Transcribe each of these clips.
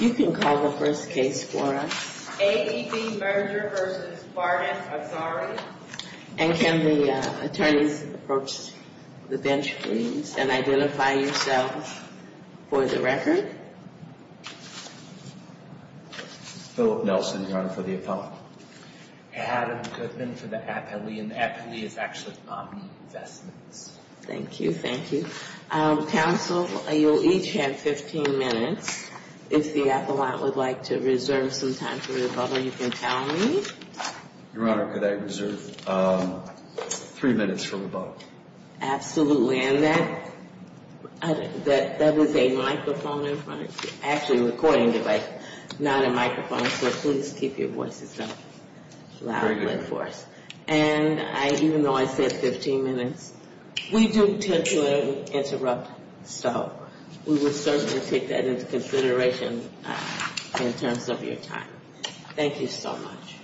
You can call the first case for us. AEB Merger v. Barnett, Azari And can the attorneys approach the bench, please, and identify yourselves for the record? Philip Nelson, Your Honor, for the appellant. Adam Goodman for the appellee, and the appellee is actually the nominee in the investments. Thank you, thank you. Counsel, you'll each have 15 minutes. If the appellant would like to reserve some time for rebuttal, you can tell me. Your Honor, could I reserve three minutes for rebuttal? Absolutely, and that was a microphone in front of you, actually a recording device, not a microphone, so please keep your voices down. Very good. And even though I said 15 minutes, we do tend to interrupt, so we will certainly take that into consideration in terms of your time. Thank you so much.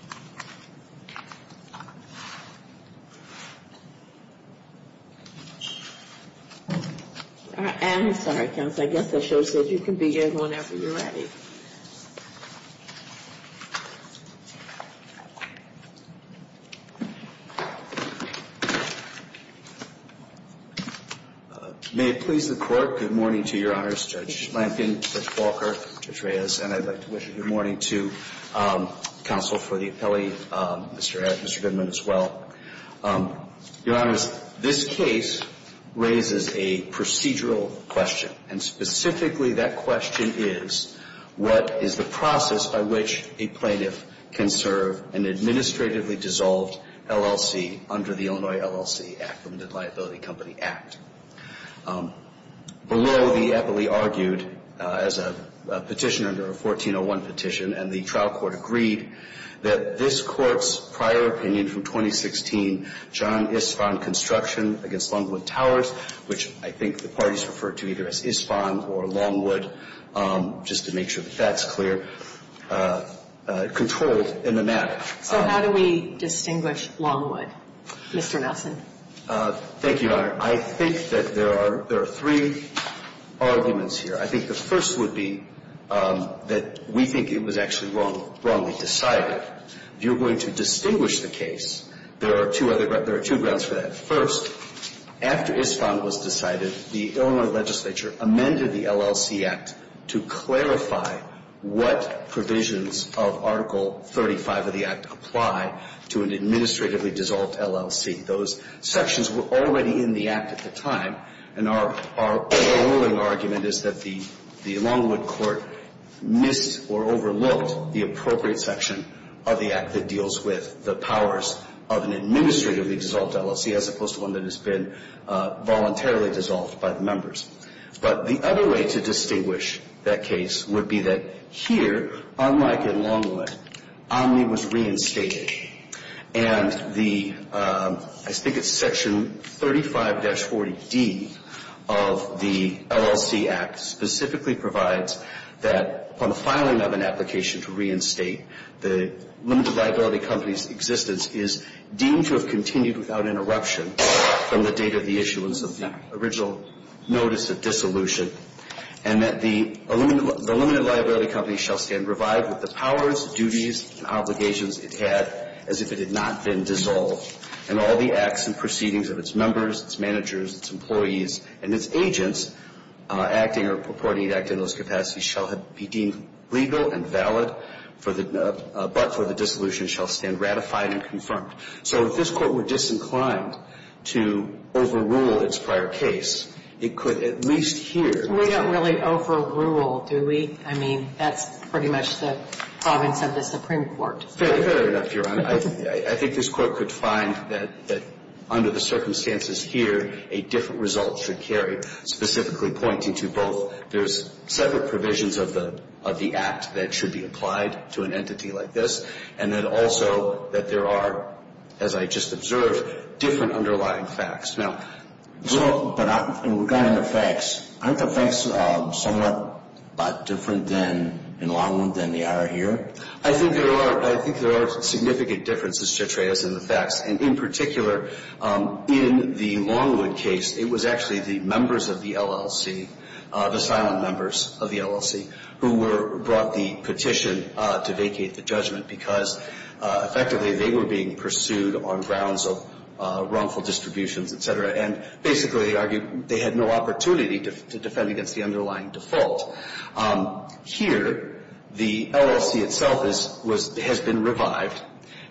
I'm sorry, counsel, I guess the show says you can begin whenever you're ready. May it please the Court, good morning to Your Honors, Judge Lampion, Judge Walker, Judge Reyes, and I'd like to wish a good morning to counsel for the appellee, Mr. Ed. Thank you, Mr. Goodman, as well. Your Honors, this case raises a procedural question, and specifically that question is, what is the process by which a plaintiff can serve an administratively dissolved LLC under the Illinois LLC Act, the Limited Liability Company Act? Below, the appellee argued as a petitioner under a 1401 petition, and the trial court agreed that this Court's prior opinion from 2016, John Ispond Construction against Longwood Towers, which I think the parties referred to either as Ispond or Longwood, just to make sure that that's clear, controlled in the matter. So how do we distinguish Longwood, Mr. Nelson? Thank you, Your Honor. I think that there are three arguments here. I think the first would be that we think it was actually wrongly decided. If you're going to distinguish the case, there are two grounds for that. First, after Ispond was decided, the Illinois legislature amended the LLC Act to clarify what provisions of Article 35 of the Act apply to an administratively dissolved LLC. Those sections were already in the Act at the time, and our overruling argument is that the Longwood Court missed or overlooked the appropriate section of the Act that deals with the powers of an administratively dissolved LLC, as opposed to one that has been voluntarily dissolved by the members. But the other way to distinguish that case would be that here, unlike in Longwood, Omni was reinstated. And the – I think it's Section 35-40D of the LLC Act specifically provides that upon the filing of an application to reinstate, the limited liability company's existence is deemed to have continued without interruption from the date of the issuance of the original notice. And that the limited liability company shall stand revived with the powers, duties, and obligations it had as if it had not been dissolved. And all the acts and proceedings of its members, its managers, its employees, and its agents acting or purporting to act in those capacities shall be deemed legal and valid, but for the dissolution shall stand ratified and confirmed. So if this Court were disinclined to overrule its prior case, it could at least here – We don't really overrule, do we? I mean, that's pretty much the province of the Supreme Court. Fair enough, Your Honor. I think this Court could find that under the circumstances here, a different result should carry. I think there are – I think there are significant differences, Cetreas, in the facts. And in particular, in the Longwood case, it was actually the members of the LLC that were the ones that were called to the court for the action. The members of the LLC, the silent members of the LLC, who were – brought the petition to vacate the judgment because, effectively, they were being pursued on grounds of wrongful distributions, et cetera. And basically, they argued they had no opportunity to defend against the underlying default. Here, the LLC itself has been revived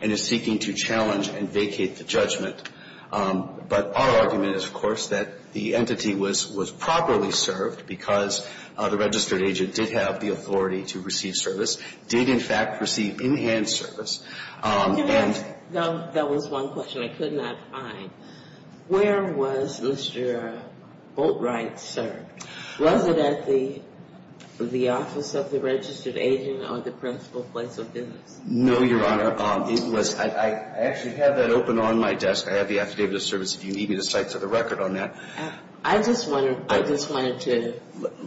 and is seeking to challenge and vacate the judgment. But our argument is, of course, that the entity was properly served because the registered agent did have the authority to receive service, did, in fact, receive in-hand service. And you have – That was one question I could not find. Where was Mr. Boltright served? Was it at the office of the registered agent or the principal place of business? No, Your Honor. It was – I actually have that open on my desk. I have the affidavit of service, if you need me to cite to the record on that. I just want to – I just wanted to –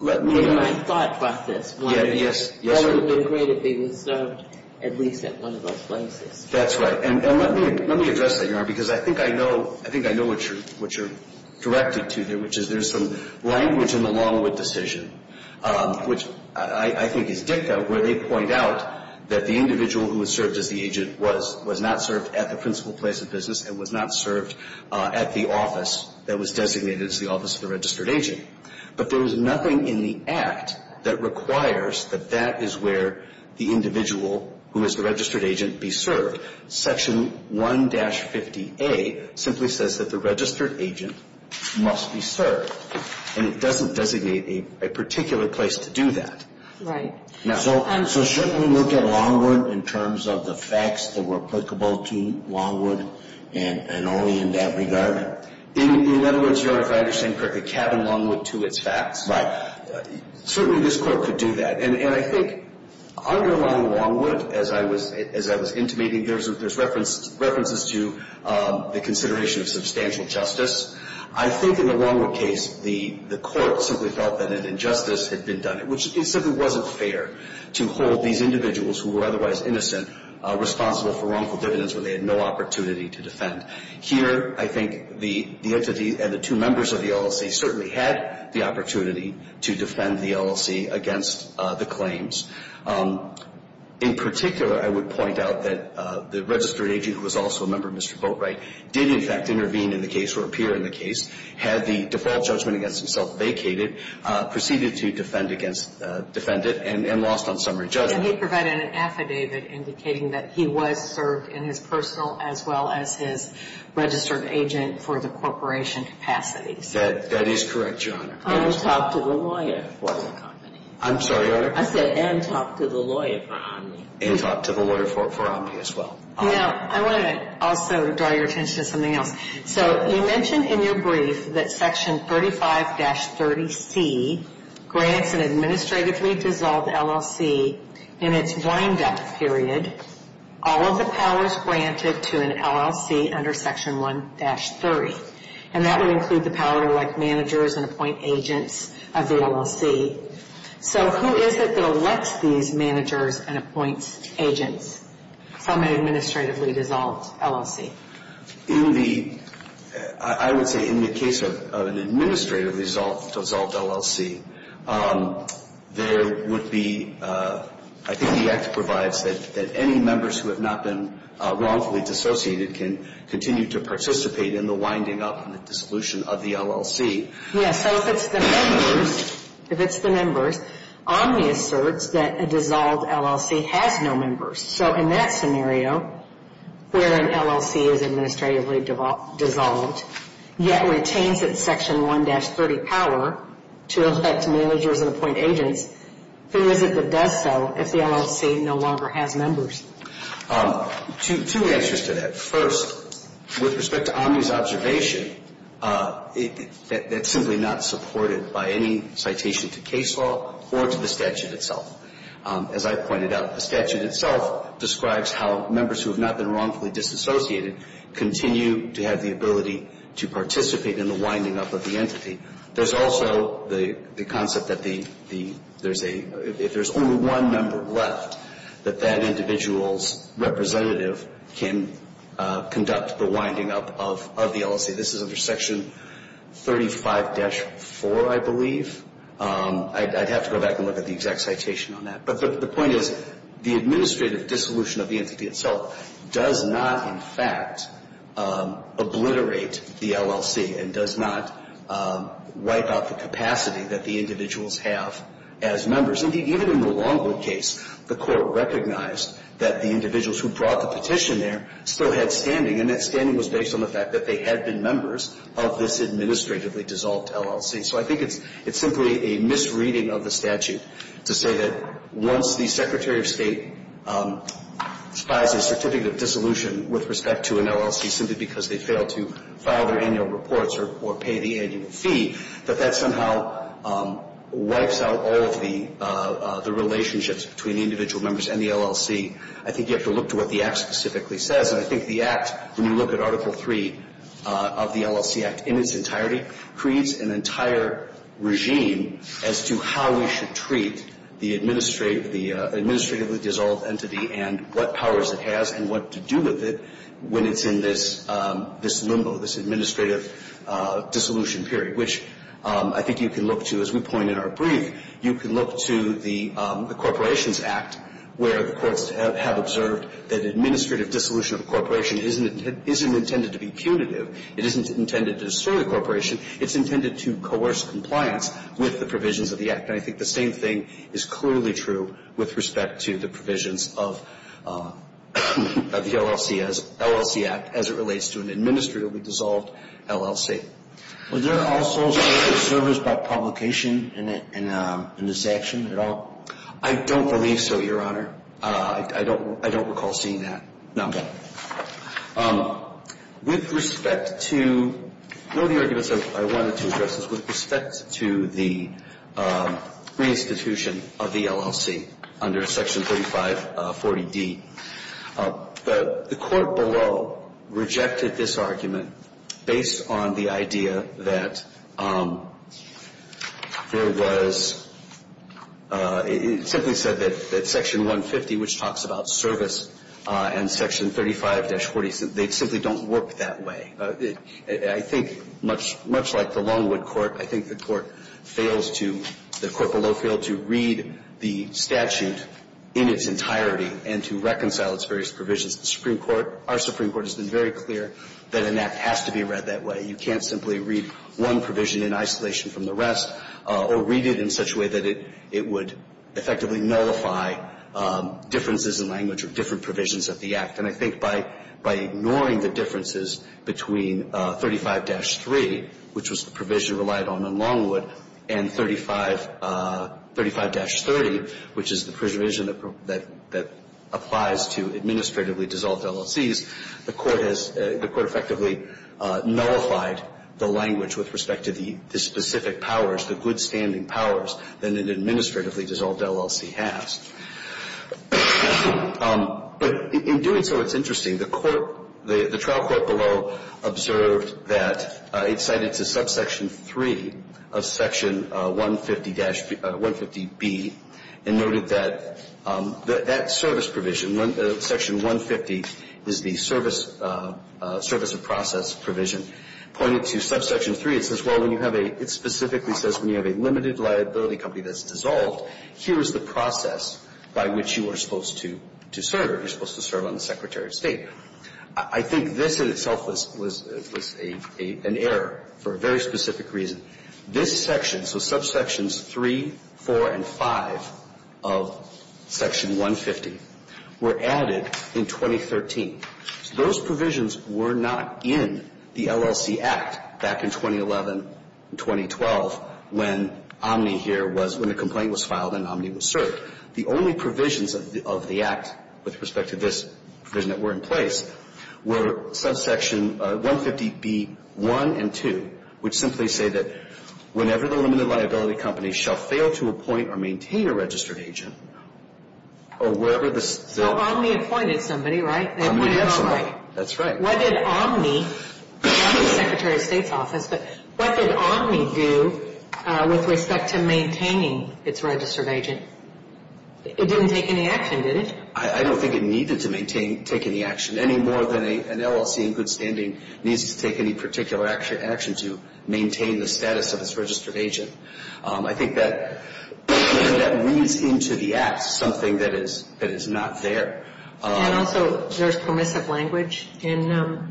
let me – my thought process. Yes, yes, Your Honor. It would have been great if he was served at least at one of those places. That's right. And let me address that, Your Honor, because I think I know – I think I know what you're directing to there, which is there's some language in the Longwood decision, which I think is dicta, where they point out that the individual who was served as the agent was not served at the principal place of business and was not served at the office that was designated as the office of the registered agent. But there was nothing in the Act that requires that that is where the individual who is the registered agent be served. Section 1-50A simply says that the registered agent must be served, and it doesn't designate a particular place to do that. Right. So shouldn't we look at Longwood in terms of the facts that were applicable to Longwood and only in that regard? In other words, Your Honor, if I understand correctly, cabin Longwood to its facts. Right. Certainly this Court could do that, and I think underlying Longwood, as I was intimating, there's references to the consideration of substantial justice. I think in the Longwood case, the Court simply felt that an injustice had been done, which it simply wasn't fair to hold these individuals who were otherwise innocent responsible for wrongful dividends when they had no opportunity to defend. Here, I think the entity and the two members of the LLC certainly had the opportunity to defend the LLC against the claims. In particular, I would point out that the registered agent, who was also a member of Mr. Boatwright, did in fact intervene in the case or appear in the case, had the default judgment against himself vacated, proceeded to defend it and lost on summary judgment. And he provided an affidavit indicating that he was served in his personal as well as his registered agent for the corporation capacities. That is correct, Your Honor. And talked to the lawyer for the company. I'm sorry, Your Honor? I said and talked to the lawyer for Omni. And talked to the lawyer for Omni as well. Now, I want to also draw your attention to something else. So you mentioned in your brief that Section 35-30C grants an administratively dissolved LLC in its wind-up period all of the powers granted to an LLC under Section 1-30. And that would include the power to elect managers and appoint agents of the LLC. So who is it that elects these managers and appoints agents from an administratively dissolved LLC? In the – I would say in the case of an administratively dissolved LLC, there would be – I think the Act provides that any members who have not been wrongfully dissociated can continue to participate in the winding up and the dissolution of the LLC. Yes. So if it's the members, if it's the members, Omni asserts that a dissolved LLC has no members. So in that scenario, where an LLC is administratively dissolved yet retains its Section 1-30 power to elect managers and appoint agents, who is it that does so if the LLC no longer has members? Two answers to that. First, with respect to Omni's observation, that's simply not supported by any citation to case law or to the statute itself. As I pointed out, the statute itself describes how members who have not been wrongfully disassociated continue to have the ability to participate in the winding up of the entity. There's also the concept that the – there's a – if there's only one member left, that that individual's representative can conduct the winding up of the LLC. This is under Section 35-4, I believe. I'd have to go back and look at the exact citation on that. But the point is the administrative dissolution of the entity itself does not, in fact, obliterate the LLC and does not wipe out the capacity that the individuals have as members. Indeed, even in the Longwood case, the Court recognized that the individuals who brought the petition there still had standing, and that standing was based on the fact that they had been members of this administratively dissolved LLC. So I think it's simply a misreading of the statute to say that once the Secretary of State despises certificate of dissolution with respect to an LLC simply because they failed to file their annual reports or pay the annual fee, that that somehow wipes out all of the relationships between the individual members and the LLC. I think you have to look to what the Act specifically says. And I think the Act, when you look at Article III of the LLC Act in its entirety, creates an entire regime as to how we should treat the administratively dissolved entity and what powers it has and what to do with it when it's in this limbo, this administrative dissolution period, which I think you can look to, as we point in our brief, you can look to the Corporations Act, where the courts have observed that administrative dissolution of a corporation isn't intended to be punitive. It isn't intended to destroy the corporation. It's intended to coerce compliance with the provisions of the Act. And I think the same thing is clearly true with respect to the provisions of the LLC Act as it relates to an administratively dissolved LLC. Was there also service by publication in this action at all? I don't believe so, Your Honor. I don't recall seeing that. No. Okay. With respect to one of the arguments I wanted to address is with respect to the reinstitution of the LLC under Section 3540D. The Court below rejected this argument based on the idea that there was – it simply said that Section 150, which talks about service, and Section 35-40, they simply don't work that way. I think much like the Longwood Court, I think the Court fails to – the Court below failed to read the statute in its entirety and to reconcile its various provisions. The Supreme Court – our Supreme Court has been very clear that an act has to be read that way. You can't simply read one provision in isolation from the rest or read it in such a way that it would effectively nullify differences in language or different provisions of the Act. And I think by ignoring the differences between 35-3, which was the provision relied on in Longwood, and 35 – 35-30, which is the provision that applies to administratively dissolved LLCs, the Court has – the Court effectively nullified the language with respect to the specific powers, the good-standing powers that an administratively dissolved LLC has. But in doing so, it's interesting. The Court – the trial court below observed that – it cited to subsection 3 of Section 150-B and noted that that service provision, Section 150, is the service of process provision. Pointed to subsection 3, it says, well, when you have a – it specifically says when you have a limited liability company that's dissolved, here is the process by which you are supposed to serve. You're supposed to serve on the Secretary of State. I think this in itself was an error for a very specific reason. This section, so subsections 3, 4, and 5 of Section 150, were added in 2013. Those provisions were not in the LLC Act back in 2011 and 2012 when Omni here was – when the complaint was filed and Omni was served. The only provisions of the Act with respect to this provision that were in place were subsection 150-B1 and 2, which simply say that whenever the limited liability company shall fail to appoint or maintain a registered agent or wherever the – So Omni appointed somebody, right? Omni appointed somebody. That's right. What did Omni – not the Secretary of State's office, but what did Omni do with respect to maintaining its registered agent? It didn't take any action, did it? I don't think it needed to maintain – take any action. Any more than an LLC in good standing needs to take any particular action to maintain the status of its registered agent. I think that when that reads into the Act, something that is not there. And also there's permissive language in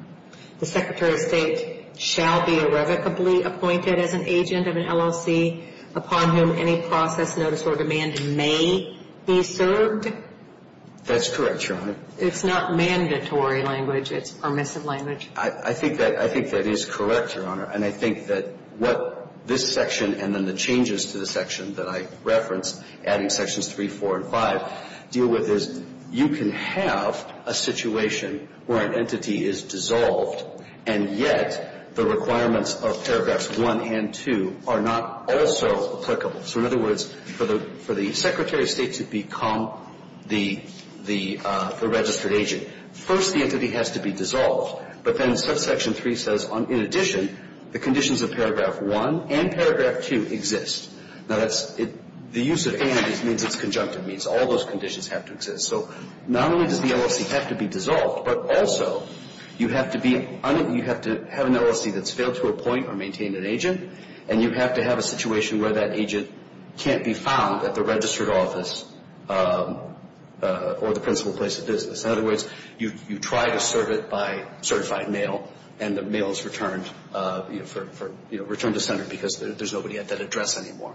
the Secretary of State shall be irrevocably appointed as an agent of an LLC upon whom any process, notice, or demand may be served. That's correct, Your Honor. It's not mandatory language. It's permissive language. I think that – I think that is correct, Your Honor. And I think that what this section and then the changes to the section that I referenced, adding sections 3, 4, and 5, deal with is you can have a situation where an entity is dissolved and yet the requirements of paragraphs 1 and 2 are not also applicable. So in other words, for the Secretary of State to become the registered agent, first the entity has to be dissolved. But then section 3 says, in addition, the conditions of paragraph 1 and paragraph 2 exist. Now that's – the use of and means it's conjunctive means. All those conditions have to exist. So not only does the LLC have to be dissolved, but also you have to be – you have to have an LLC that's failed to appoint or maintain an agent, and you have to have a situation where that agent can't be found at the registered office or the principal place of business. In other words, you try to serve it by certified mail, and the mail is returned, you know, returned to center because there's nobody at that address anymore.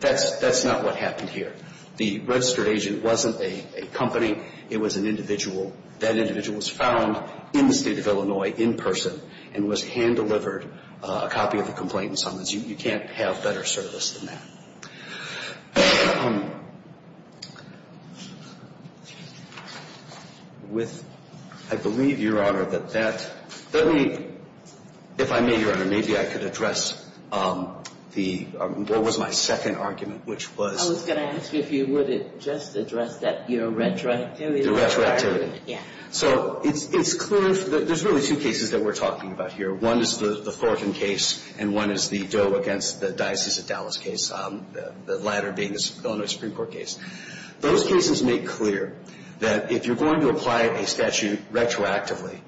That's not what happened here. The registered agent wasn't a company. It was an individual. That individual was found in the State of Illinois in person and was hand-delivered a copy of the complaint and summons. You can't have better service than that. With – I believe, Your Honor, that that – let me – if I may, Your Honor, maybe I could address the – what was my second argument, which was – I was going to ask if you would just address that – your retroactivity. Your retroactivity. Yeah. So it's clear – there's really two cases that we're talking about here. One is the Thornton case, and one is the Doe against the Diocese of Dallas case, the latter being the Illinois Supreme Court case. Those cases make clear that if you're going to apply a statute retroactively,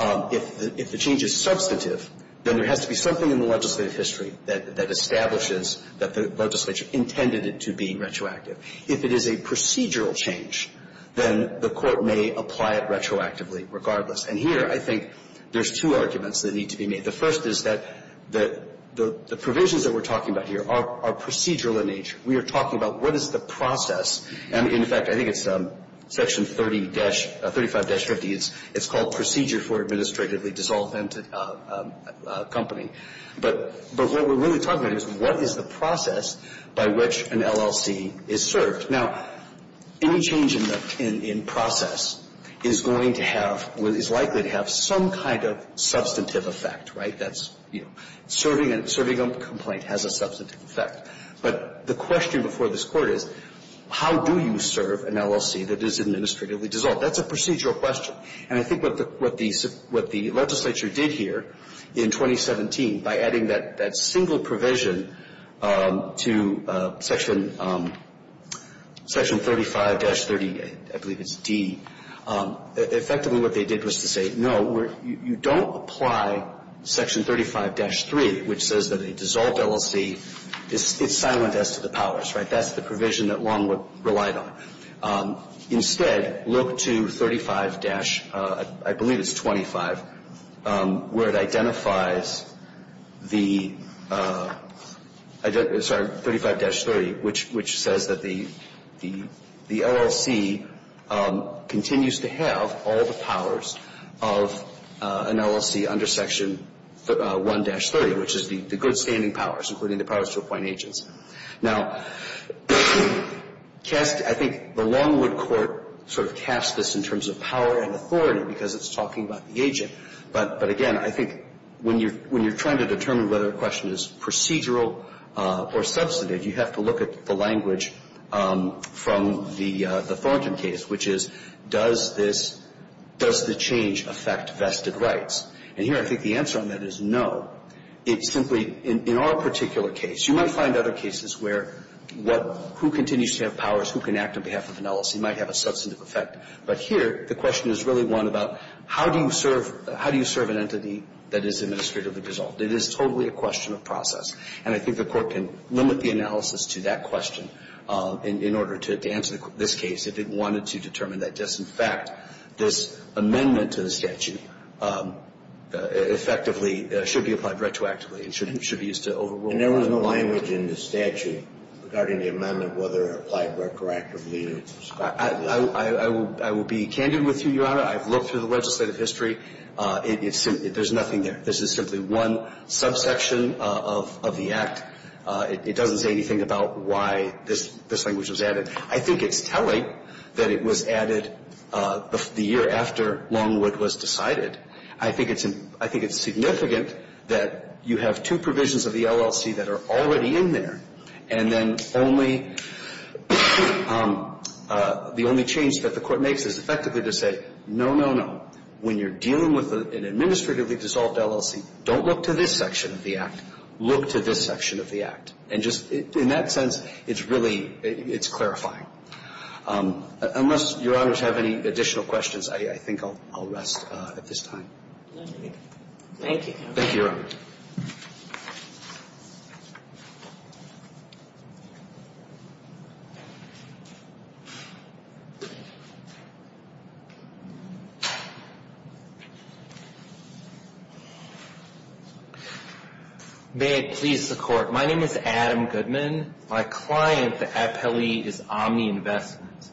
if the change is substantive, then there has to be something in the legislative history that establishes that the legislature intended it to be retroactive. If it is a procedural change, then the court may apply it retroactively regardless. And here I think there's two arguments that need to be made. The first is that the provisions that we're talking about here are procedural in nature. We are talking about what is the process. And, in fact, I think it's Section 30- – 35-50. It's called Procedure for Administratively Dissolvent Company. But what we're really talking about is what is the process by which an LLC is served. Now, any change in process is going to have – is likely to have some kind of substantive effect, right? That's – serving a complaint has a substantive effect. But the question before this Court is, how do you serve an LLC that is administratively That's a procedural question. And I think what the legislature did here in 2017 by adding that single provision to Section 35-30, I believe it's D, effectively what they did was to say, no, you don't apply Section 35-3, which says that a dissolved LLC is silent as to the powers, right? That's the provision that Longwood relied on. Instead, look to 35- – I believe it's 25, where it identifies the – sorry, 35-30, which says that the LLC continues to have all the powers of an LLC under Section 1-30, which is the good standing powers, including the powers to appoint agents. Now, I think the Longwood Court sort of casts this in terms of power and authority because it's talking about the agent. But, again, I think when you're trying to determine whether a question is procedural or substantive, you have to look at the language from the Thornton case, which is, does this – does the change affect vested rights? And here I think the answer on that is no. It simply – in our particular case, you might find other cases where what – who continues to have powers, who can act on behalf of an LLC might have a substantive effect, but here the question is really one about how do you serve – how do you serve an entity that is administratively dissolved? It is totally a question of process, and I think the Court can limit the analysis to that question in order to answer this case if it wanted to determine that. Just in fact, this amendment to the statute effectively should be applied retroactively and should be used to overrule the law. And there was no language in the statute regarding the amendment whether it applied retroactively or – I will be candid with you, Your Honor. I've looked through the legislative history. It's – there's nothing there. This is simply one subsection of the Act. It doesn't say anything about why this language was added. I think it's telling that it was added the year after Longwood was decided. I think it's – I think it's significant that you have two provisions of the LLC that are already in there, and then only – the only change that the Court makes is effectively to say, no, no, no. When you're dealing with an administratively dissolved LLC, don't look to this section of the Act. Look to this section of the Act. And just in that sense, it's really – it's clarifying. Unless Your Honors have any additional questions, I think I'll rest at this time. Thank you. Thank you, Your Honor. May it please the Court. My name is Adam Goodman. My client, the appellee, is Omni Investments.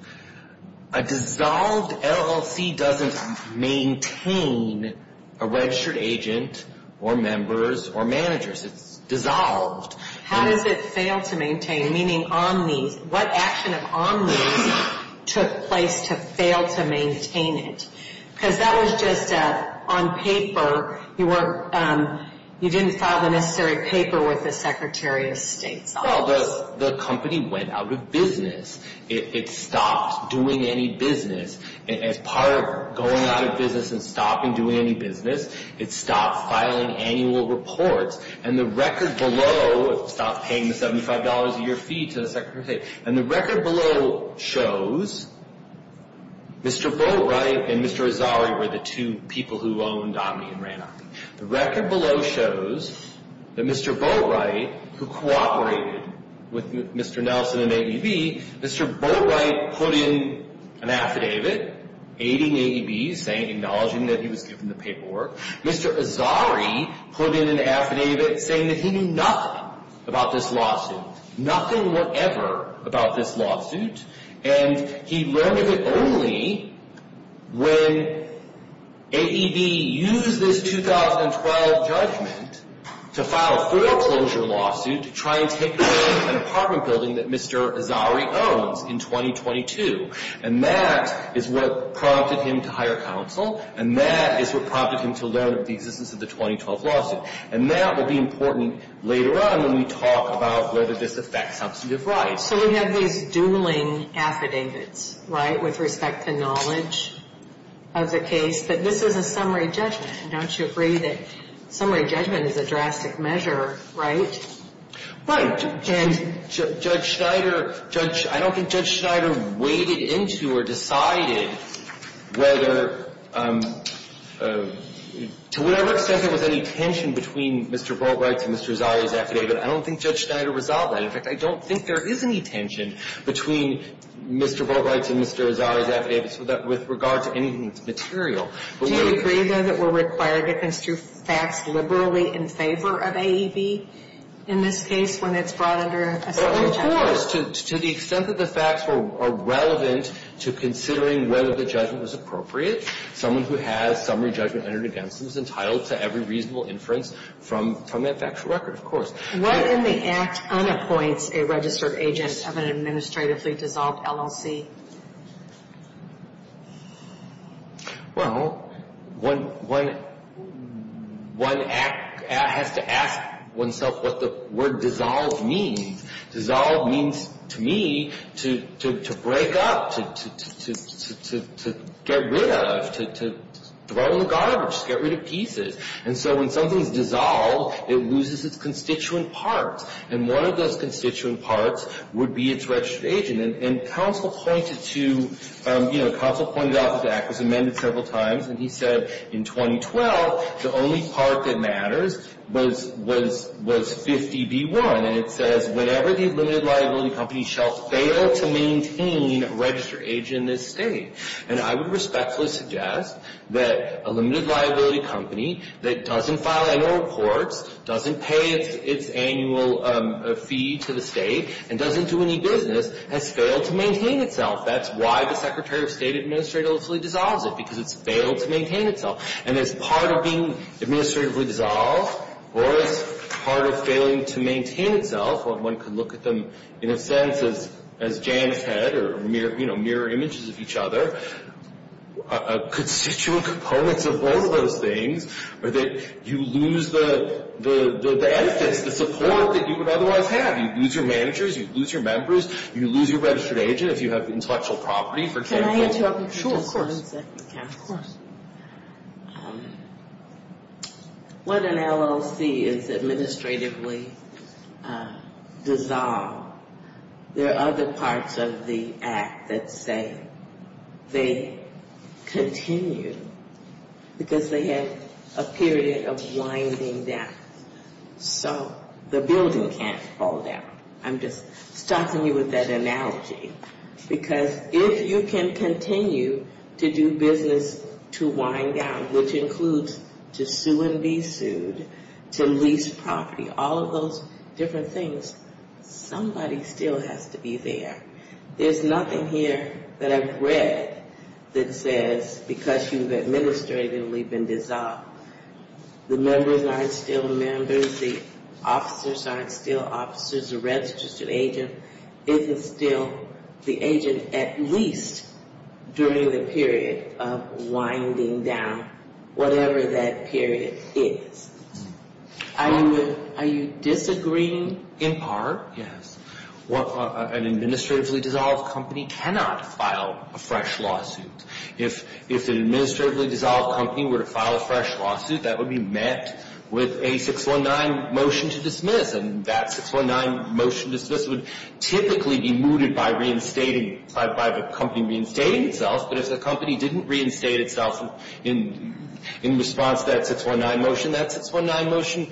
A dissolved LLC doesn't maintain a registered agent or members or managers. It's dissolved. How does it fail to maintain? Meaning Omni – what action of Omni's took place to fail to maintain it? Because that was just on paper. You didn't file the necessary paper with the Secretary of State's office. Well, the company went out of business. It stopped doing any business. As part of going out of business and stopping doing any business, it stopped filing annual reports. And the record below – it stopped paying the $75 a year fee to the Secretary of State. And the record below shows Mr. Boatwright and Mr. Rosari were the two people who owned Omni and ran Omni. The record below shows that Mr. Boatwright, who cooperated with Mr. Nelson and ABB, Mr. Boatwright put in an affidavit aiding ABB, acknowledging that he was given the paperwork. Mr. Rosari put in an affidavit saying that he knew nothing about this lawsuit. Nothing whatever about this lawsuit. And he learned of it only when ABB used this 2012 judgment to file a foreclosure lawsuit to try and take away an apartment building that Mr. Rosari owns in 2022. And that is what prompted him to hire counsel. And that is what prompted him to learn of the existence of the 2012 lawsuit. And that will be important later on when we talk about whether this affects substantive rights. So we have these dueling affidavits, right, with respect to knowledge of the case. But this is a summary judgment. Don't you agree that summary judgment is a drastic measure, right? Right. And Judge Schneider – Judge – I don't think Judge Schneider weighed into or decided whether – to whatever extent there was any tension between Mr. Boatwright's and Mr. Rosari's affidavit. I don't think Judge Schneider resolved that. In fact, I don't think there is any tension between Mr. Boatwright's and Mr. Rosari's affidavits with regard to anything that's material. Do you agree, though, that we're required to construe facts liberally in favor of AEB in this case when it's brought under a summary judgment? Of course. To the extent that the facts are relevant to considering whether the judgment was appropriate, someone who has summary judgment entered against them is entitled to every reasonable inference from that factual record, of course. What if the Act unappoints a registered agent of an administratively dissolved LLC? Well, one has to ask oneself what the word dissolved means. Dissolved means, to me, to break up, to get rid of, to throw in the garbage, to get rid of pieces. And so when something is dissolved, it loses its constituent parts. And one of those constituent parts would be its registered agent. And counsel pointed to, you know, counsel pointed out that the Act was amended several times. And he said in 2012 the only part that matters was 50B1. And it says whenever the limited liability company shall fail to maintain a registered agent in this state. And I would respectfully suggest that a limited liability company that doesn't file annual reports, doesn't pay its annual fee to the state, and doesn't do any business has failed to maintain itself. That's why the Secretary of State administratively dissolves it, because it's failed to maintain itself. And as part of being administratively dissolved or as part of failing to maintain itself, one could look at them in a sense as Jan said, or mirror images of each other. Constituent components of both of those things are that you lose the benefits, the support that you would otherwise have. You lose your managers, you lose your members, you lose your registered agent if you have intellectual property. Can I interrupt you for just one second, counsel? Sure, of course. When an LLC is administratively dissolved, there are other parts of the Act that say they continue because they have a period of winding down. So the building can't fall down. I'm just stopping you with that analogy. Because if you can continue to do business to wind down, which includes to sue and be sued, to lease property, all of those different things, somebody still has to be there. There's nothing here that I've read that says because you've administratively been dissolved, the members aren't still members, the officers aren't still officers, the registered agent isn't still the agent, at least during the period of winding down, whatever that period is. Are you disagreeing? In part, yes. An administratively dissolved company cannot file a fresh lawsuit. If an administratively dissolved company were to file a fresh lawsuit, that would be met with a 619 motion to dismiss. And that 619 motion to dismiss would typically be mooted by reinstating, by the company reinstating itself. But if the company didn't reinstate itself in response to that 619 motion, that 619 motion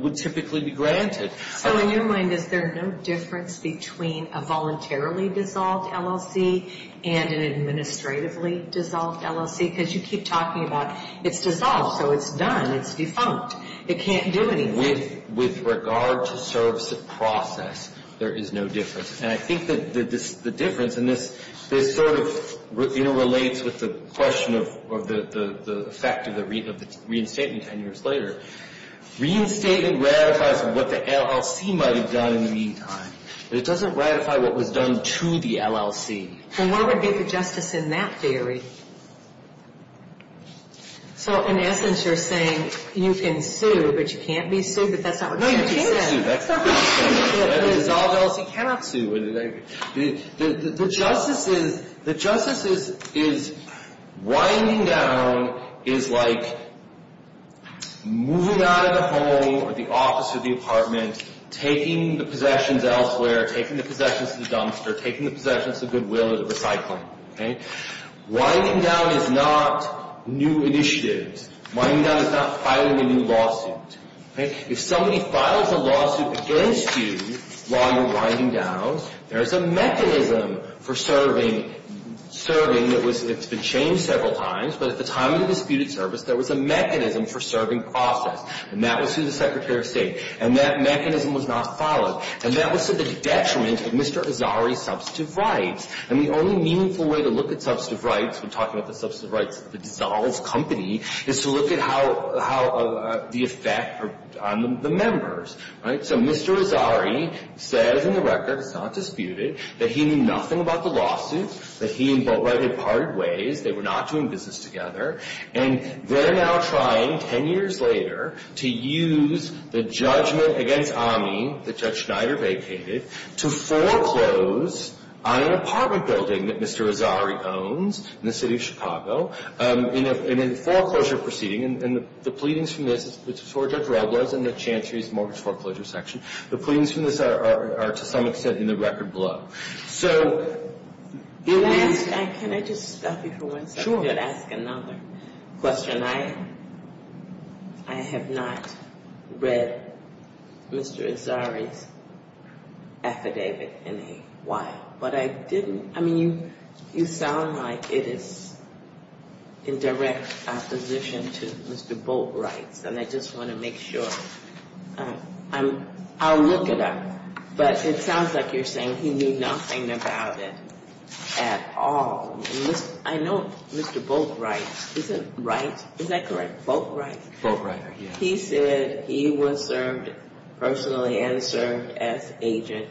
would typically be granted. So in your mind, is there no difference between a voluntarily dissolved LLC and an administratively dissolved LLC? Because you keep talking about it's dissolved, so it's done. It's defunct. It can't do anything. With regard to service of process, there is no difference. And I think that the difference, and this sort of interrelates with the question of the effect of the reinstatement 10 years later. Reinstatement ratifies what the LLC might have done in the meantime. But it doesn't ratify what was done to the LLC. And what would be the justice in that theory? So in essence, you're saying you can sue, but you can't be sued, but that's not what you said. No, you can't sue. That's not what you said. A dissolved LLC cannot sue. The justice is winding down is like moving out of the home or the office or the apartment, taking the possessions elsewhere, taking the possessions to the dumpster, taking the possessions of goodwill to the recycling. Winding down is not new initiatives. Winding down is not filing a new lawsuit. If somebody files a lawsuit against you while you're winding down, there's a mechanism for serving that was — it's been changed several times, but at the time of the disputed service, there was a mechanism for serving process. And that was through the Secretary of State. And that mechanism was not followed. And that was to the detriment of Mr. Azari's substantive rights. And the only meaningful way to look at substantive rights when talking about the substantive rights of a dissolved company is to look at how the effect on the members, right? So Mr. Azari says in the record, it's not disputed, that he knew nothing about the lawsuit, that he and Boatwright had parted ways, they were not doing business together. And they're now trying, 10 years later, to use the judgment against AMI that Judge Schneider vacated to foreclose on an apartment building that Mr. Azari owns in the city of Chicago in a foreclosure proceeding. And the pleadings from this — this is for Judge Robles and the Chantry's mortgage foreclosure section. The pleadings from this are, to some extent, in the record below. So — Can I just stop you for one second and ask another question? I have not read Mr. Azari's affidavit in a while. But I didn't — I mean, you sound like it is in direct opposition to Mr. Boatwright's. And I just want to make sure. I'll look it up. But it sounds like you're saying he knew nothing about it at all. I know Mr. Boatwright — is it Wright? Is that correct? Boatwright? Boatwright, yeah. He said he was served personally and served as agent.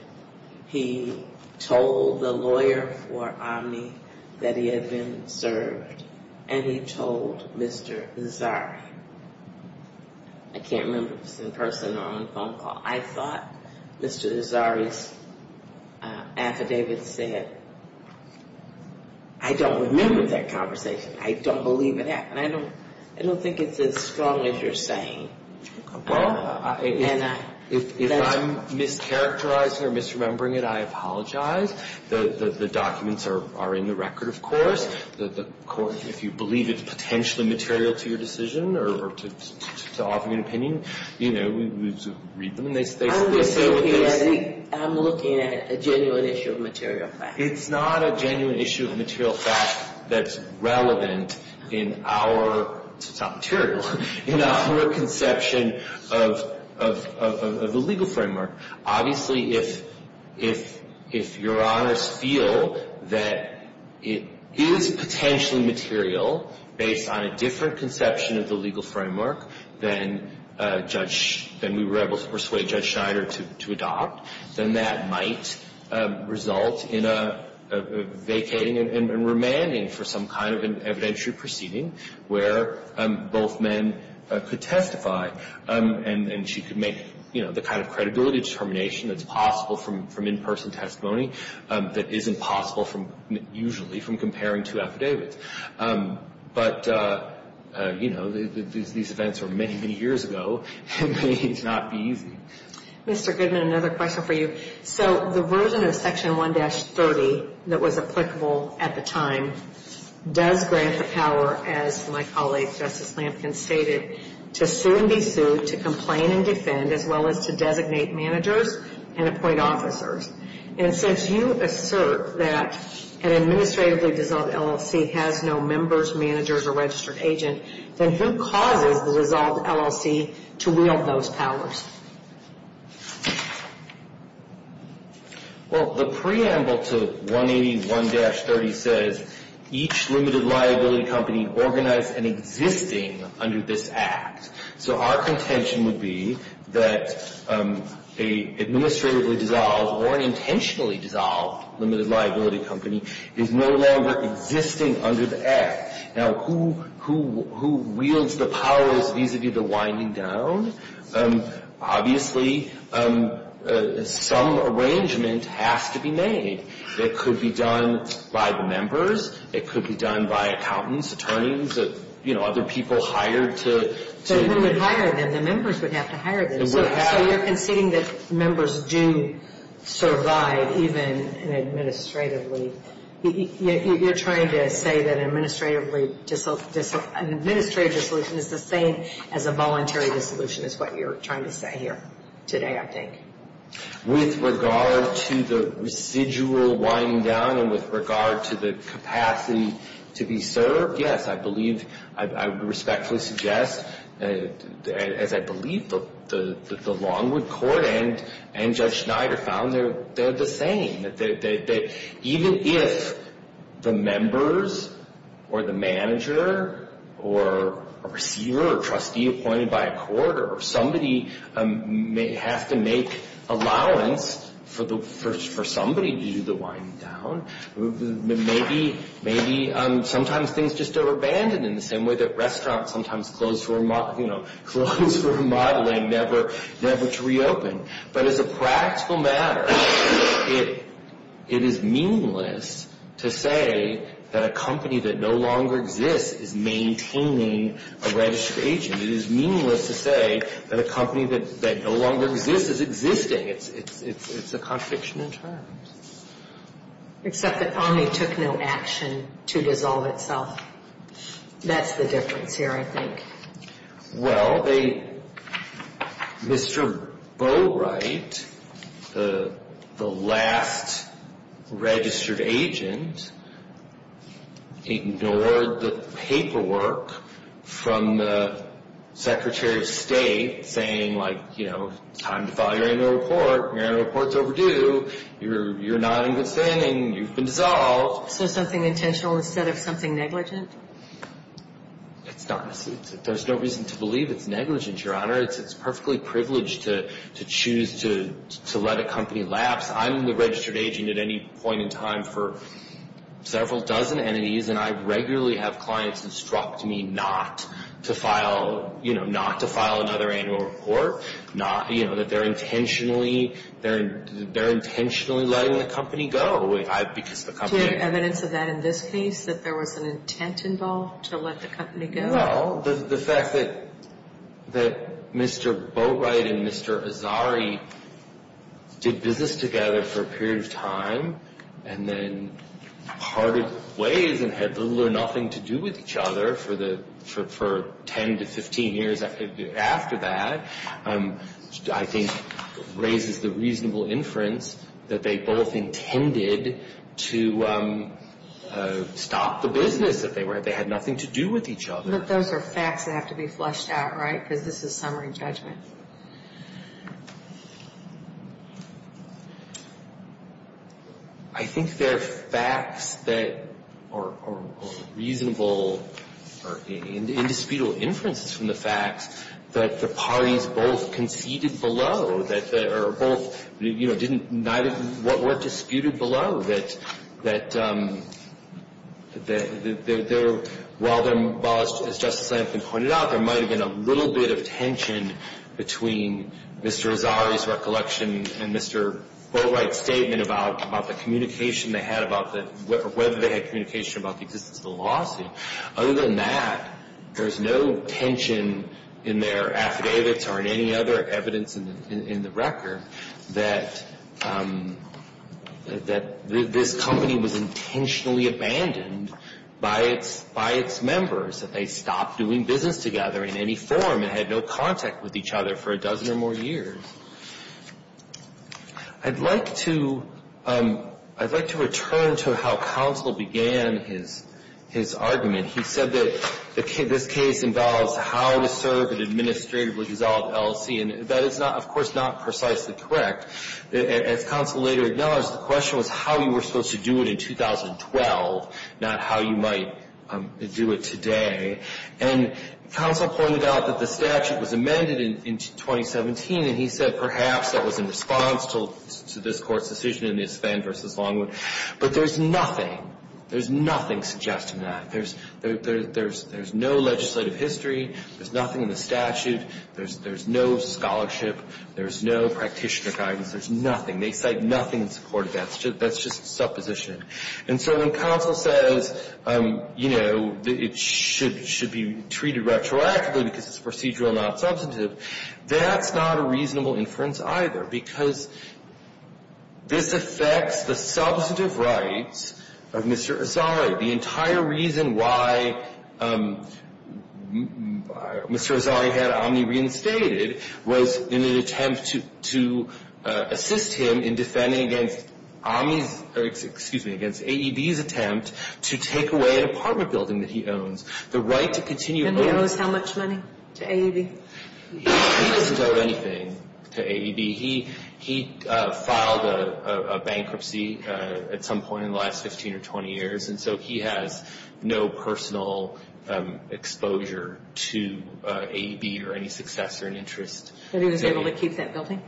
He told the lawyer for Omni that he had been served. And he told Mr. Azari. I can't remember if it was in person or on a phone call. I thought Mr. Azari's affidavit said — I don't remember that conversation. I don't believe it happened. I don't think it's as strong as you're saying. Well, if I'm mischaracterizing or misremembering it, I apologize. The documents are in the record, of course. If you believe it's potentially material to your decision or to offer an opinion, you know, read them. I'm looking at a genuine issue of material fact. It's not a genuine issue of material fact that's relevant in our — it's not material. In our conception of the legal framework, obviously if your honors feel that it is potentially material based on a different conception of the legal framework than Judge — than we were able to persuade Judge Schneider to adopt, then that might result in a vacating and remanding for some kind of an evidentiary proceeding where both men could testify and she could make, you know, the kind of credibility determination that's possible from in-person testimony that isn't possible from — usually from comparing two affidavits. But, you know, these events were many, many years ago. It may not be easy. Mr. Goodman, another question for you. So the version of Section 1-30 that was applicable at the time does grant the power, as my colleague Justice Lampkin stated, to sue and be sued, to complain and defend, as well as to designate managers and appoint officers. And since you assert that an administratively dissolved LLC has no members, managers, or registered agent, then who causes the dissolved LLC to wield those powers? Well, the preamble to 181-30 says each limited liability company organized and existing under this Act. So our contention would be that an administratively dissolved or an intentionally dissolved limited liability company is no longer existing under the Act. Now, who wields the powers vis-à-vis the winding down? Obviously, some arrangement has to be made. It could be done by the members. It could be done by accountants, attorneys, you know, other people hired to — So who would hire them? The members would have to hire them. It would have — So you're conceding that members do survive, even administratively. You're trying to say that an administrative dissolution is the same as a voluntary dissolution, is what you're trying to say here today, I think. With regard to the residual winding down and with regard to the capacity to be served, yes, I believe, I would respectfully suggest, as I believe the Longwood Court and Judge Schneider found, they're the same. Even if the members or the manager or a receiver or trustee appointed by a court or somebody may have to make allowance for somebody to do the winding down, maybe sometimes things just are abandoned in the same way that restaurants sometimes close for remodeling, never to reopen. But as a practical matter, it is meaningless to say that a company that no longer exists is maintaining a registered agent. It is meaningless to say that a company that no longer exists is existing. It's a contradiction in terms. Except that Omni took no action to dissolve itself. That's the difference here, I think. Well, they, Mr. Bowright, the last registered agent, ignored the paperwork from the Secretary of State saying like, you know, time to file your annual report, your annual report's overdue, you're not in good standing, you've been dissolved. So something intentional instead of something negligent? There's no reason to believe it's negligent, Your Honor. It's perfectly privileged to choose to let a company lapse. I'm the registered agent at any point in time for several dozen entities, and I regularly have clients instruct me not to file, you know, not to file another annual report. You know, that they're intentionally letting the company go. Do you have evidence of that in this case, that there was an intent involved to let the company go? Well, the fact that Mr. Bowright and Mr. Azari did business together for a period of time, and then parted ways and had little or nothing to do with each other for 10 to 15 years after that, I think raises the reasonable inference that they both intended to stop the business that they were in. They had nothing to do with each other. But those are facts that have to be flushed out, right? Because this is summary judgment. I think they're facts that are reasonable or indisputable inferences from the facts that the parties both conceded below, that they're both, you know, didn't, neither of what were disputed below, that they're, while, as Justice Lankford pointed out, there might have been a little bit of tension between Mr. Azari's recollection and Mr. Bowright's statement about the communication they had about the, whether they had communication about the existence of the lawsuit. Other than that, there's no tension in their affidavits or in any other evidence in the record that this company was intentionally abandoned by its members, that they stopped doing business together in any form and had no contact with each other for a dozen or more years. I'd like to return to how counsel began his argument. He said that this case involves how to serve an administratively dissolved LLC, and that is, of course, not precisely correct. As counsel later acknowledged, the question was how you were supposed to do it in 2012, not how you might do it today. And counsel pointed out that the statute was amended in 2017, and he said perhaps that was in response to this Court's decision in his Fenn v. Longwood. But there's nothing, there's nothing suggesting that. There's no legislative history. There's nothing in the statute. There's no scholarship. There's no practitioner guidance. There's nothing. They cite nothing in support of that. That's just supposition. And so when counsel says, you know, it should be treated retroactively because it's procedural, not substantive, that's not a reasonable inference either, because this affects the substantive rights of Mr. Azari. The entire reason why Mr. Azari had Omni reinstated was in an attempt to assist him in defending against Omni's or, excuse me, against AEB's attempt to take away an apartment building that he owns. The right to continue owning. Do you know how much money to AEB? He doesn't owe anything to AEB. He filed a bankruptcy at some point in the last 15 or 20 years, and so he has no personal exposure to AEB or any successor in interest. But he was able to keep that building?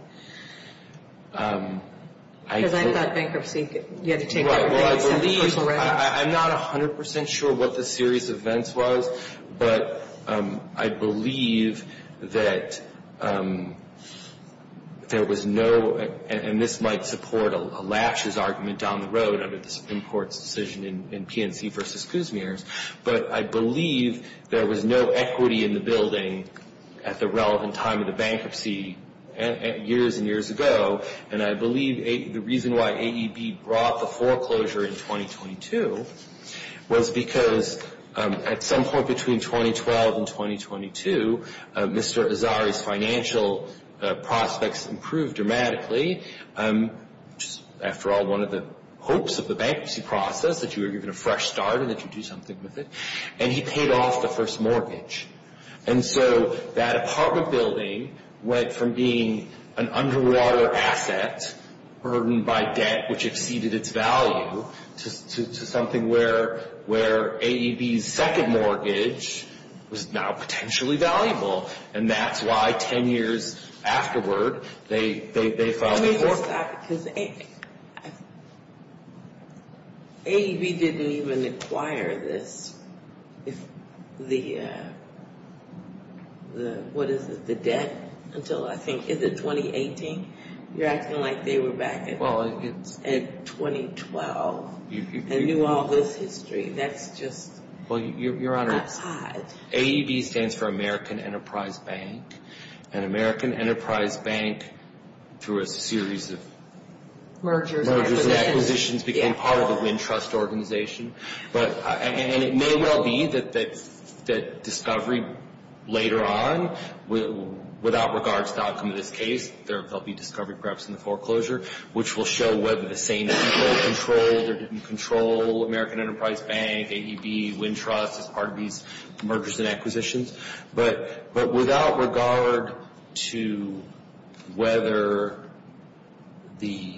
Because I thought bankruptcy, you had to take everything except the personal rent. I'm not 100% sure what the series of events was, but I believe that there was no, and this might support a lashes argument down the road under the Supreme Court's decision in PNC v. Kuzmier, but I believe there was no equity in the building at the relevant time of the bankruptcy years and years ago, and I believe the reason why AEB brought the foreclosure in 2022 was because at some point between 2012 and 2022, Mr. Azari's financial prospects improved dramatically, which is, after all, one of the hopes of the bankruptcy process, that you were given a fresh start and that you'd do something with it, and he paid off the first mortgage. And so that apartment building went from being an underwater asset, burdened by debt, which exceeded its value, to something where AEB's second mortgage was now potentially valuable, and that's why 10 years afterward, they filed the foreclosure. Let me just add, because AEB didn't even inquire this, if the, what is it, the debt until, I think, is it 2018? You're acting like they were back in 2012 and knew all this history. That's just odd. Well, Your Honor, AEB stands for American Enterprise Bank, and American Enterprise Bank, through a series of mergers and acquisitions, became part of the Wintrust organization, and it may well be that discovery later on without regard to the outcome of this case, there will be discovery perhaps in the foreclosure, which will show whether the same people controlled or didn't control American Enterprise Bank, AEB, Wintrust, as part of these mergers and acquisitions. But without regard to whether the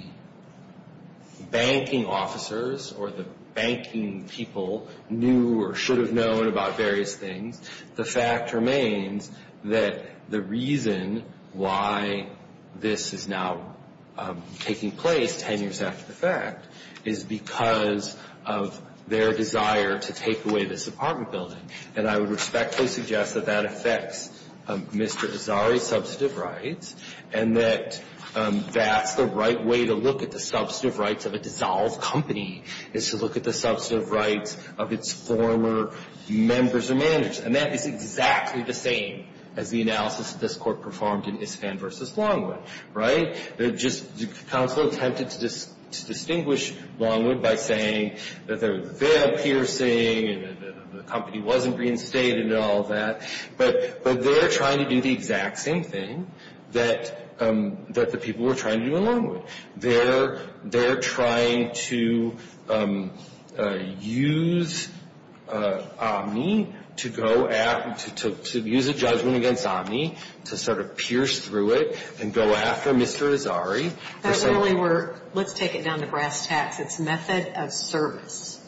banking officers or the banking people knew or should have known about various things, the fact remains that the reason why this is now taking place 10 years after the fact is because of their desire to take away this apartment building. And I would respectfully suggest that that affects Mr. Azari's substantive rights and that that's the right way to look at the substantive rights of a dissolved company is to look at the substantive rights of its former members or managers. And that is exactly the same as the analysis that this Court performed in Iskand v. Longwood. Right? The counsel attempted to distinguish Longwood by saying that there was a fail piercing and the company wasn't reinstated and all that, but they're trying to do the exact same thing that the people were trying to do in Longwood. They're trying to use Omni to go at, to use a judgment against Omni to sort of pierce through it and go after Mr. Azari. That's really where, let's take it down to brass tacks. It's method of service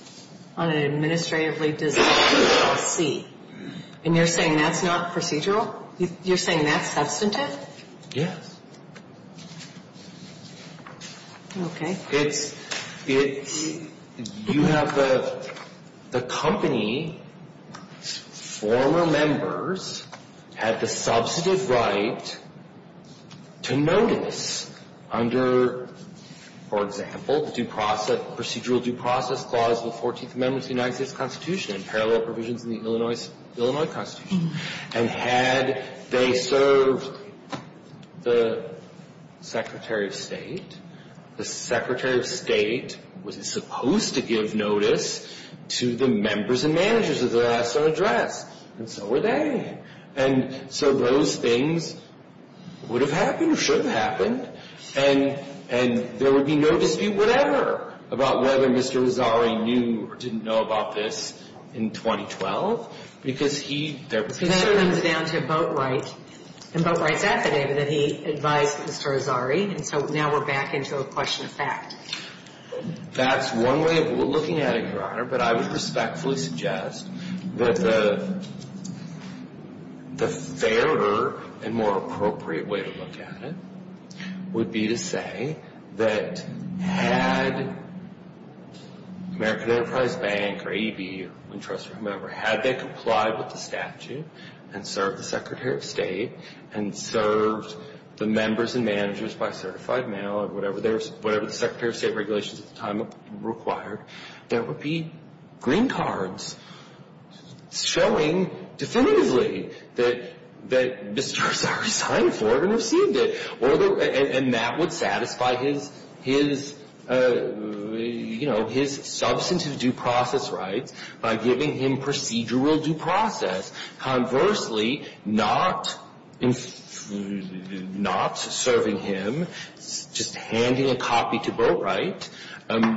on an administratively dissolved LLC. And you're saying that's not procedural? You're saying that's substantive? Yes. Okay. It's, you have the company's former members had the substantive right to notice under, for example, the procedural due process clause of the 14th Amendment of the United States Constitution and parallel provisions in the Illinois Constitution. And had they served the Secretary of State, the Secretary of State was supposed to give notice to the members and managers of the last address, and so were they. And so those things would have happened or should have happened, and there would be no dispute whatever about whether Mr. Azari knew or didn't know about this in 2012 because he, there was concern. So then it comes down to Boatwright and Boatwright's affidavit that he advised Mr. Azari, and so now we're back into a question of fact. That's one way of looking at it, Your Honor, but I would respectfully suggest that the fairer and more appropriate way to look at it would be to say that had American Enterprise Bank or ADB, trust me, whatever, had they complied with the statute and served the Secretary of State and served the members and managers by certified mail or whatever the Secretary of State regulations at the time required, there would be green cards showing definitively that Mr. Azari signed for it and received it. And that would satisfy his, you know, his substantive due process rights by giving him procedural due process. Conversely, not serving him, just handing a copy to Boatwright,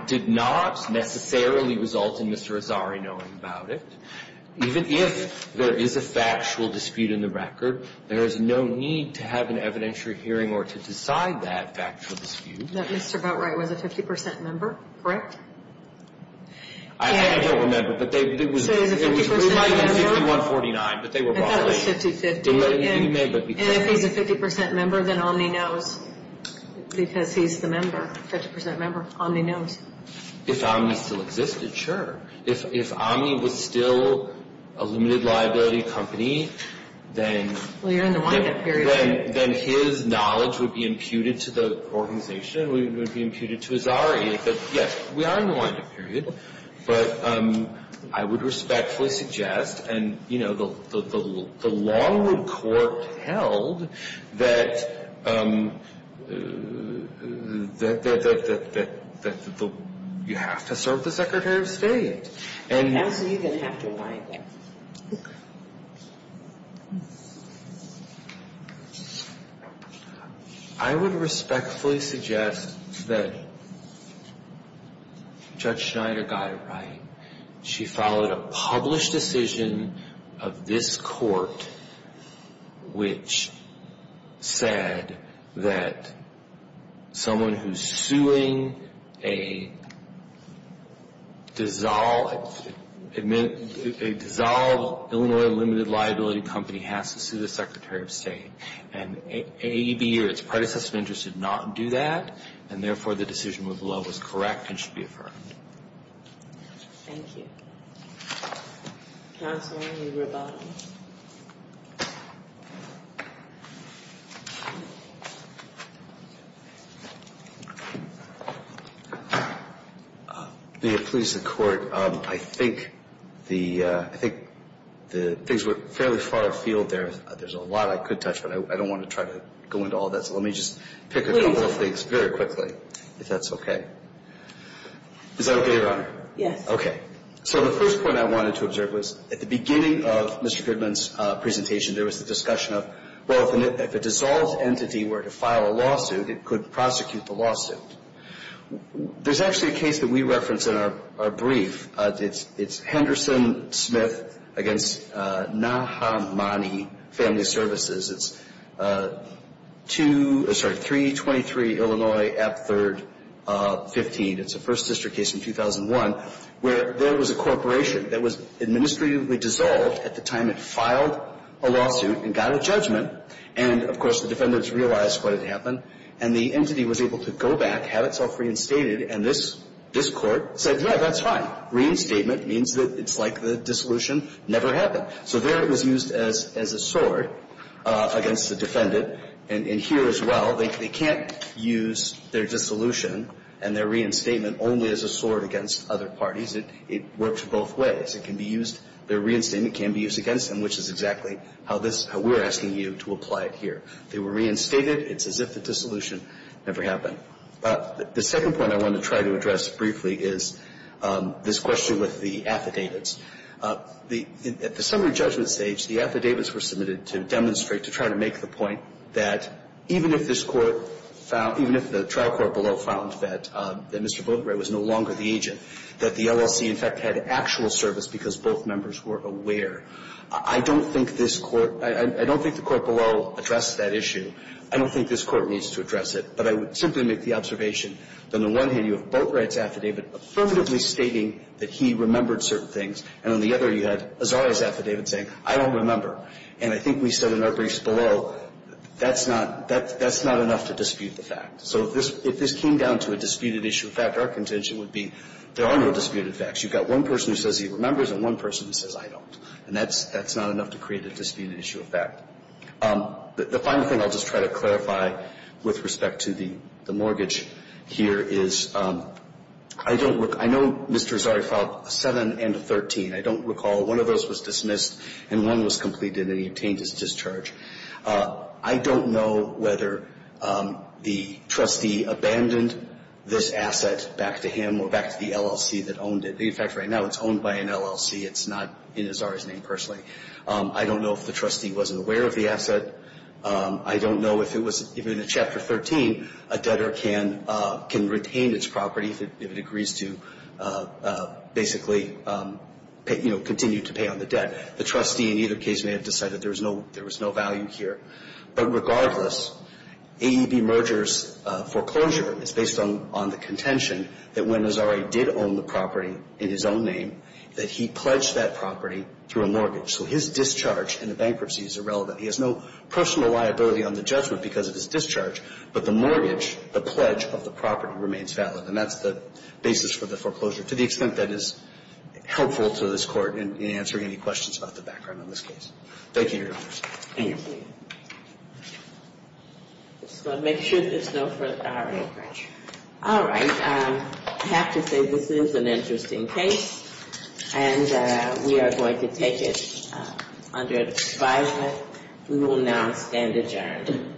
did not necessarily result in Mr. Azari knowing about it. Even if there is a factual dispute in the record, there is no need to have an evidentiary hearing or to decide that factual dispute. That Mr. Boatwright was a 50 percent member, correct? I don't remember. So he was a 50 percent member? It was ruled by 6149, but they were wrong. I thought it was 50-50. And if he's a 50 percent member, then Omni knows because he's the member, 50 percent member. Omni knows. If Omni still existed, sure. If Omni was still a limited liability company, then his knowledge would be imputed to the organization, it would be imputed to Azari. But, yes, we are in a wind-up period. But I would respectfully suggest, and, you know, the Longwood Court held, that you have to serve the Secretary of State. And how is he going to have to abide by it? I would respectfully suggest that Judge Schneider got it right. She followed a published decision of this Court which said that someone who's suing a dissolved Illinois limited liability company has to sue the Secretary of State. And AEB or its predecessor of interest did not do that. And, therefore, the decision was correct and should be affirmed. Thank you. Counselor, you were about to ask. May it please the Court, I think the things were fairly far afield there. There's a lot I could touch, but I don't want to try to go into all that. So let me just pick a couple of things very quickly, if that's okay. Is that okay, Your Honor? Yes. Okay. So the first point I wanted to observe was at the beginning of Mr. Goodman's presentation, there was the discussion of, well, if a dissolved entity were to file a lawsuit, it could prosecute the lawsuit. There's actually a case that we reference in our brief. It's Henderson-Smith v. Nahamani Family Services. It's 323 Illinois App 3rd 15. It's a First Sister case in 2001 where there was a corporation that was administratively dissolved at the time it filed a lawsuit and got a judgment. And, of course, the defendants realized what had happened. And the entity was able to go back, have itself reinstated. And this Court said, yeah, that's fine. Reinstatement means that it's like the dissolution never happened. So there it was used as a sword against the defendant. And here as well, they can't use their dissolution and their reinstatement only as a sword against other parties. It works both ways. It can be used – their reinstatement can be used against them, which is exactly how this – how we're asking you to apply it here. They were reinstated. It's as if the dissolution never happened. The second point I want to try to address briefly is this question with the affidavits. The – at the summary judgment stage, the affidavits were submitted to demonstrate to try to make the point that even if this Court found – even if the trial court below found that Mr. Boatwright was no longer the agent, that the LLC in fact had actual service because both members were aware. I don't think this Court – I don't think the court below addressed that issue. I don't think this Court needs to address it. But I would simply make the observation that on the one hand, you have Boatwright's affidavit affirmatively stating that he remembered certain things. And on the other, you had Azari's affidavit saying, I don't remember. And I think we said in our briefs below, that's not – that's not enough to dispute the fact. So if this came down to a disputed issue of fact, our contention would be there are no disputed facts. You've got one person who says he remembers and one person who says, I don't. And that's – that's not enough to create a disputed issue of fact. The final thing I'll just try to clarify with respect to the mortgage here is I don't – I know Mr. Azari filed a 7 and a 13. I don't recall one of those was dismissed and one was completed and he obtained his discharge. I don't know whether the trustee abandoned this asset back to him or back to the LLC that owned it. In fact, right now it's owned by an LLC. It's not in Azari's name personally. I don't know if the trustee wasn't aware of the asset. I don't know if it was – even in Chapter 13, a debtor can – can retain its property if it agrees to basically, you know, continue to pay on the debt. The trustee in either case may have decided there was no – there was no value here. But regardless, AEB mergers foreclosure is based on the contention that when Azari did own the property in his own name, that he pledged that property through a mortgage. So his discharge in a bankruptcy is irrelevant. He has no personal liability on the judgment because of his discharge. But the mortgage, the pledge of the property remains valid. And that's the basis for the foreclosure to the extent that is helpful to this Court in answering any questions about the background on this case. Thank you, Your Honors. Thank you. I'm just going to make sure there's no further – all right. All right. I have to say this is an interesting case. And we are going to take it under advisement. We will now stand adjourned.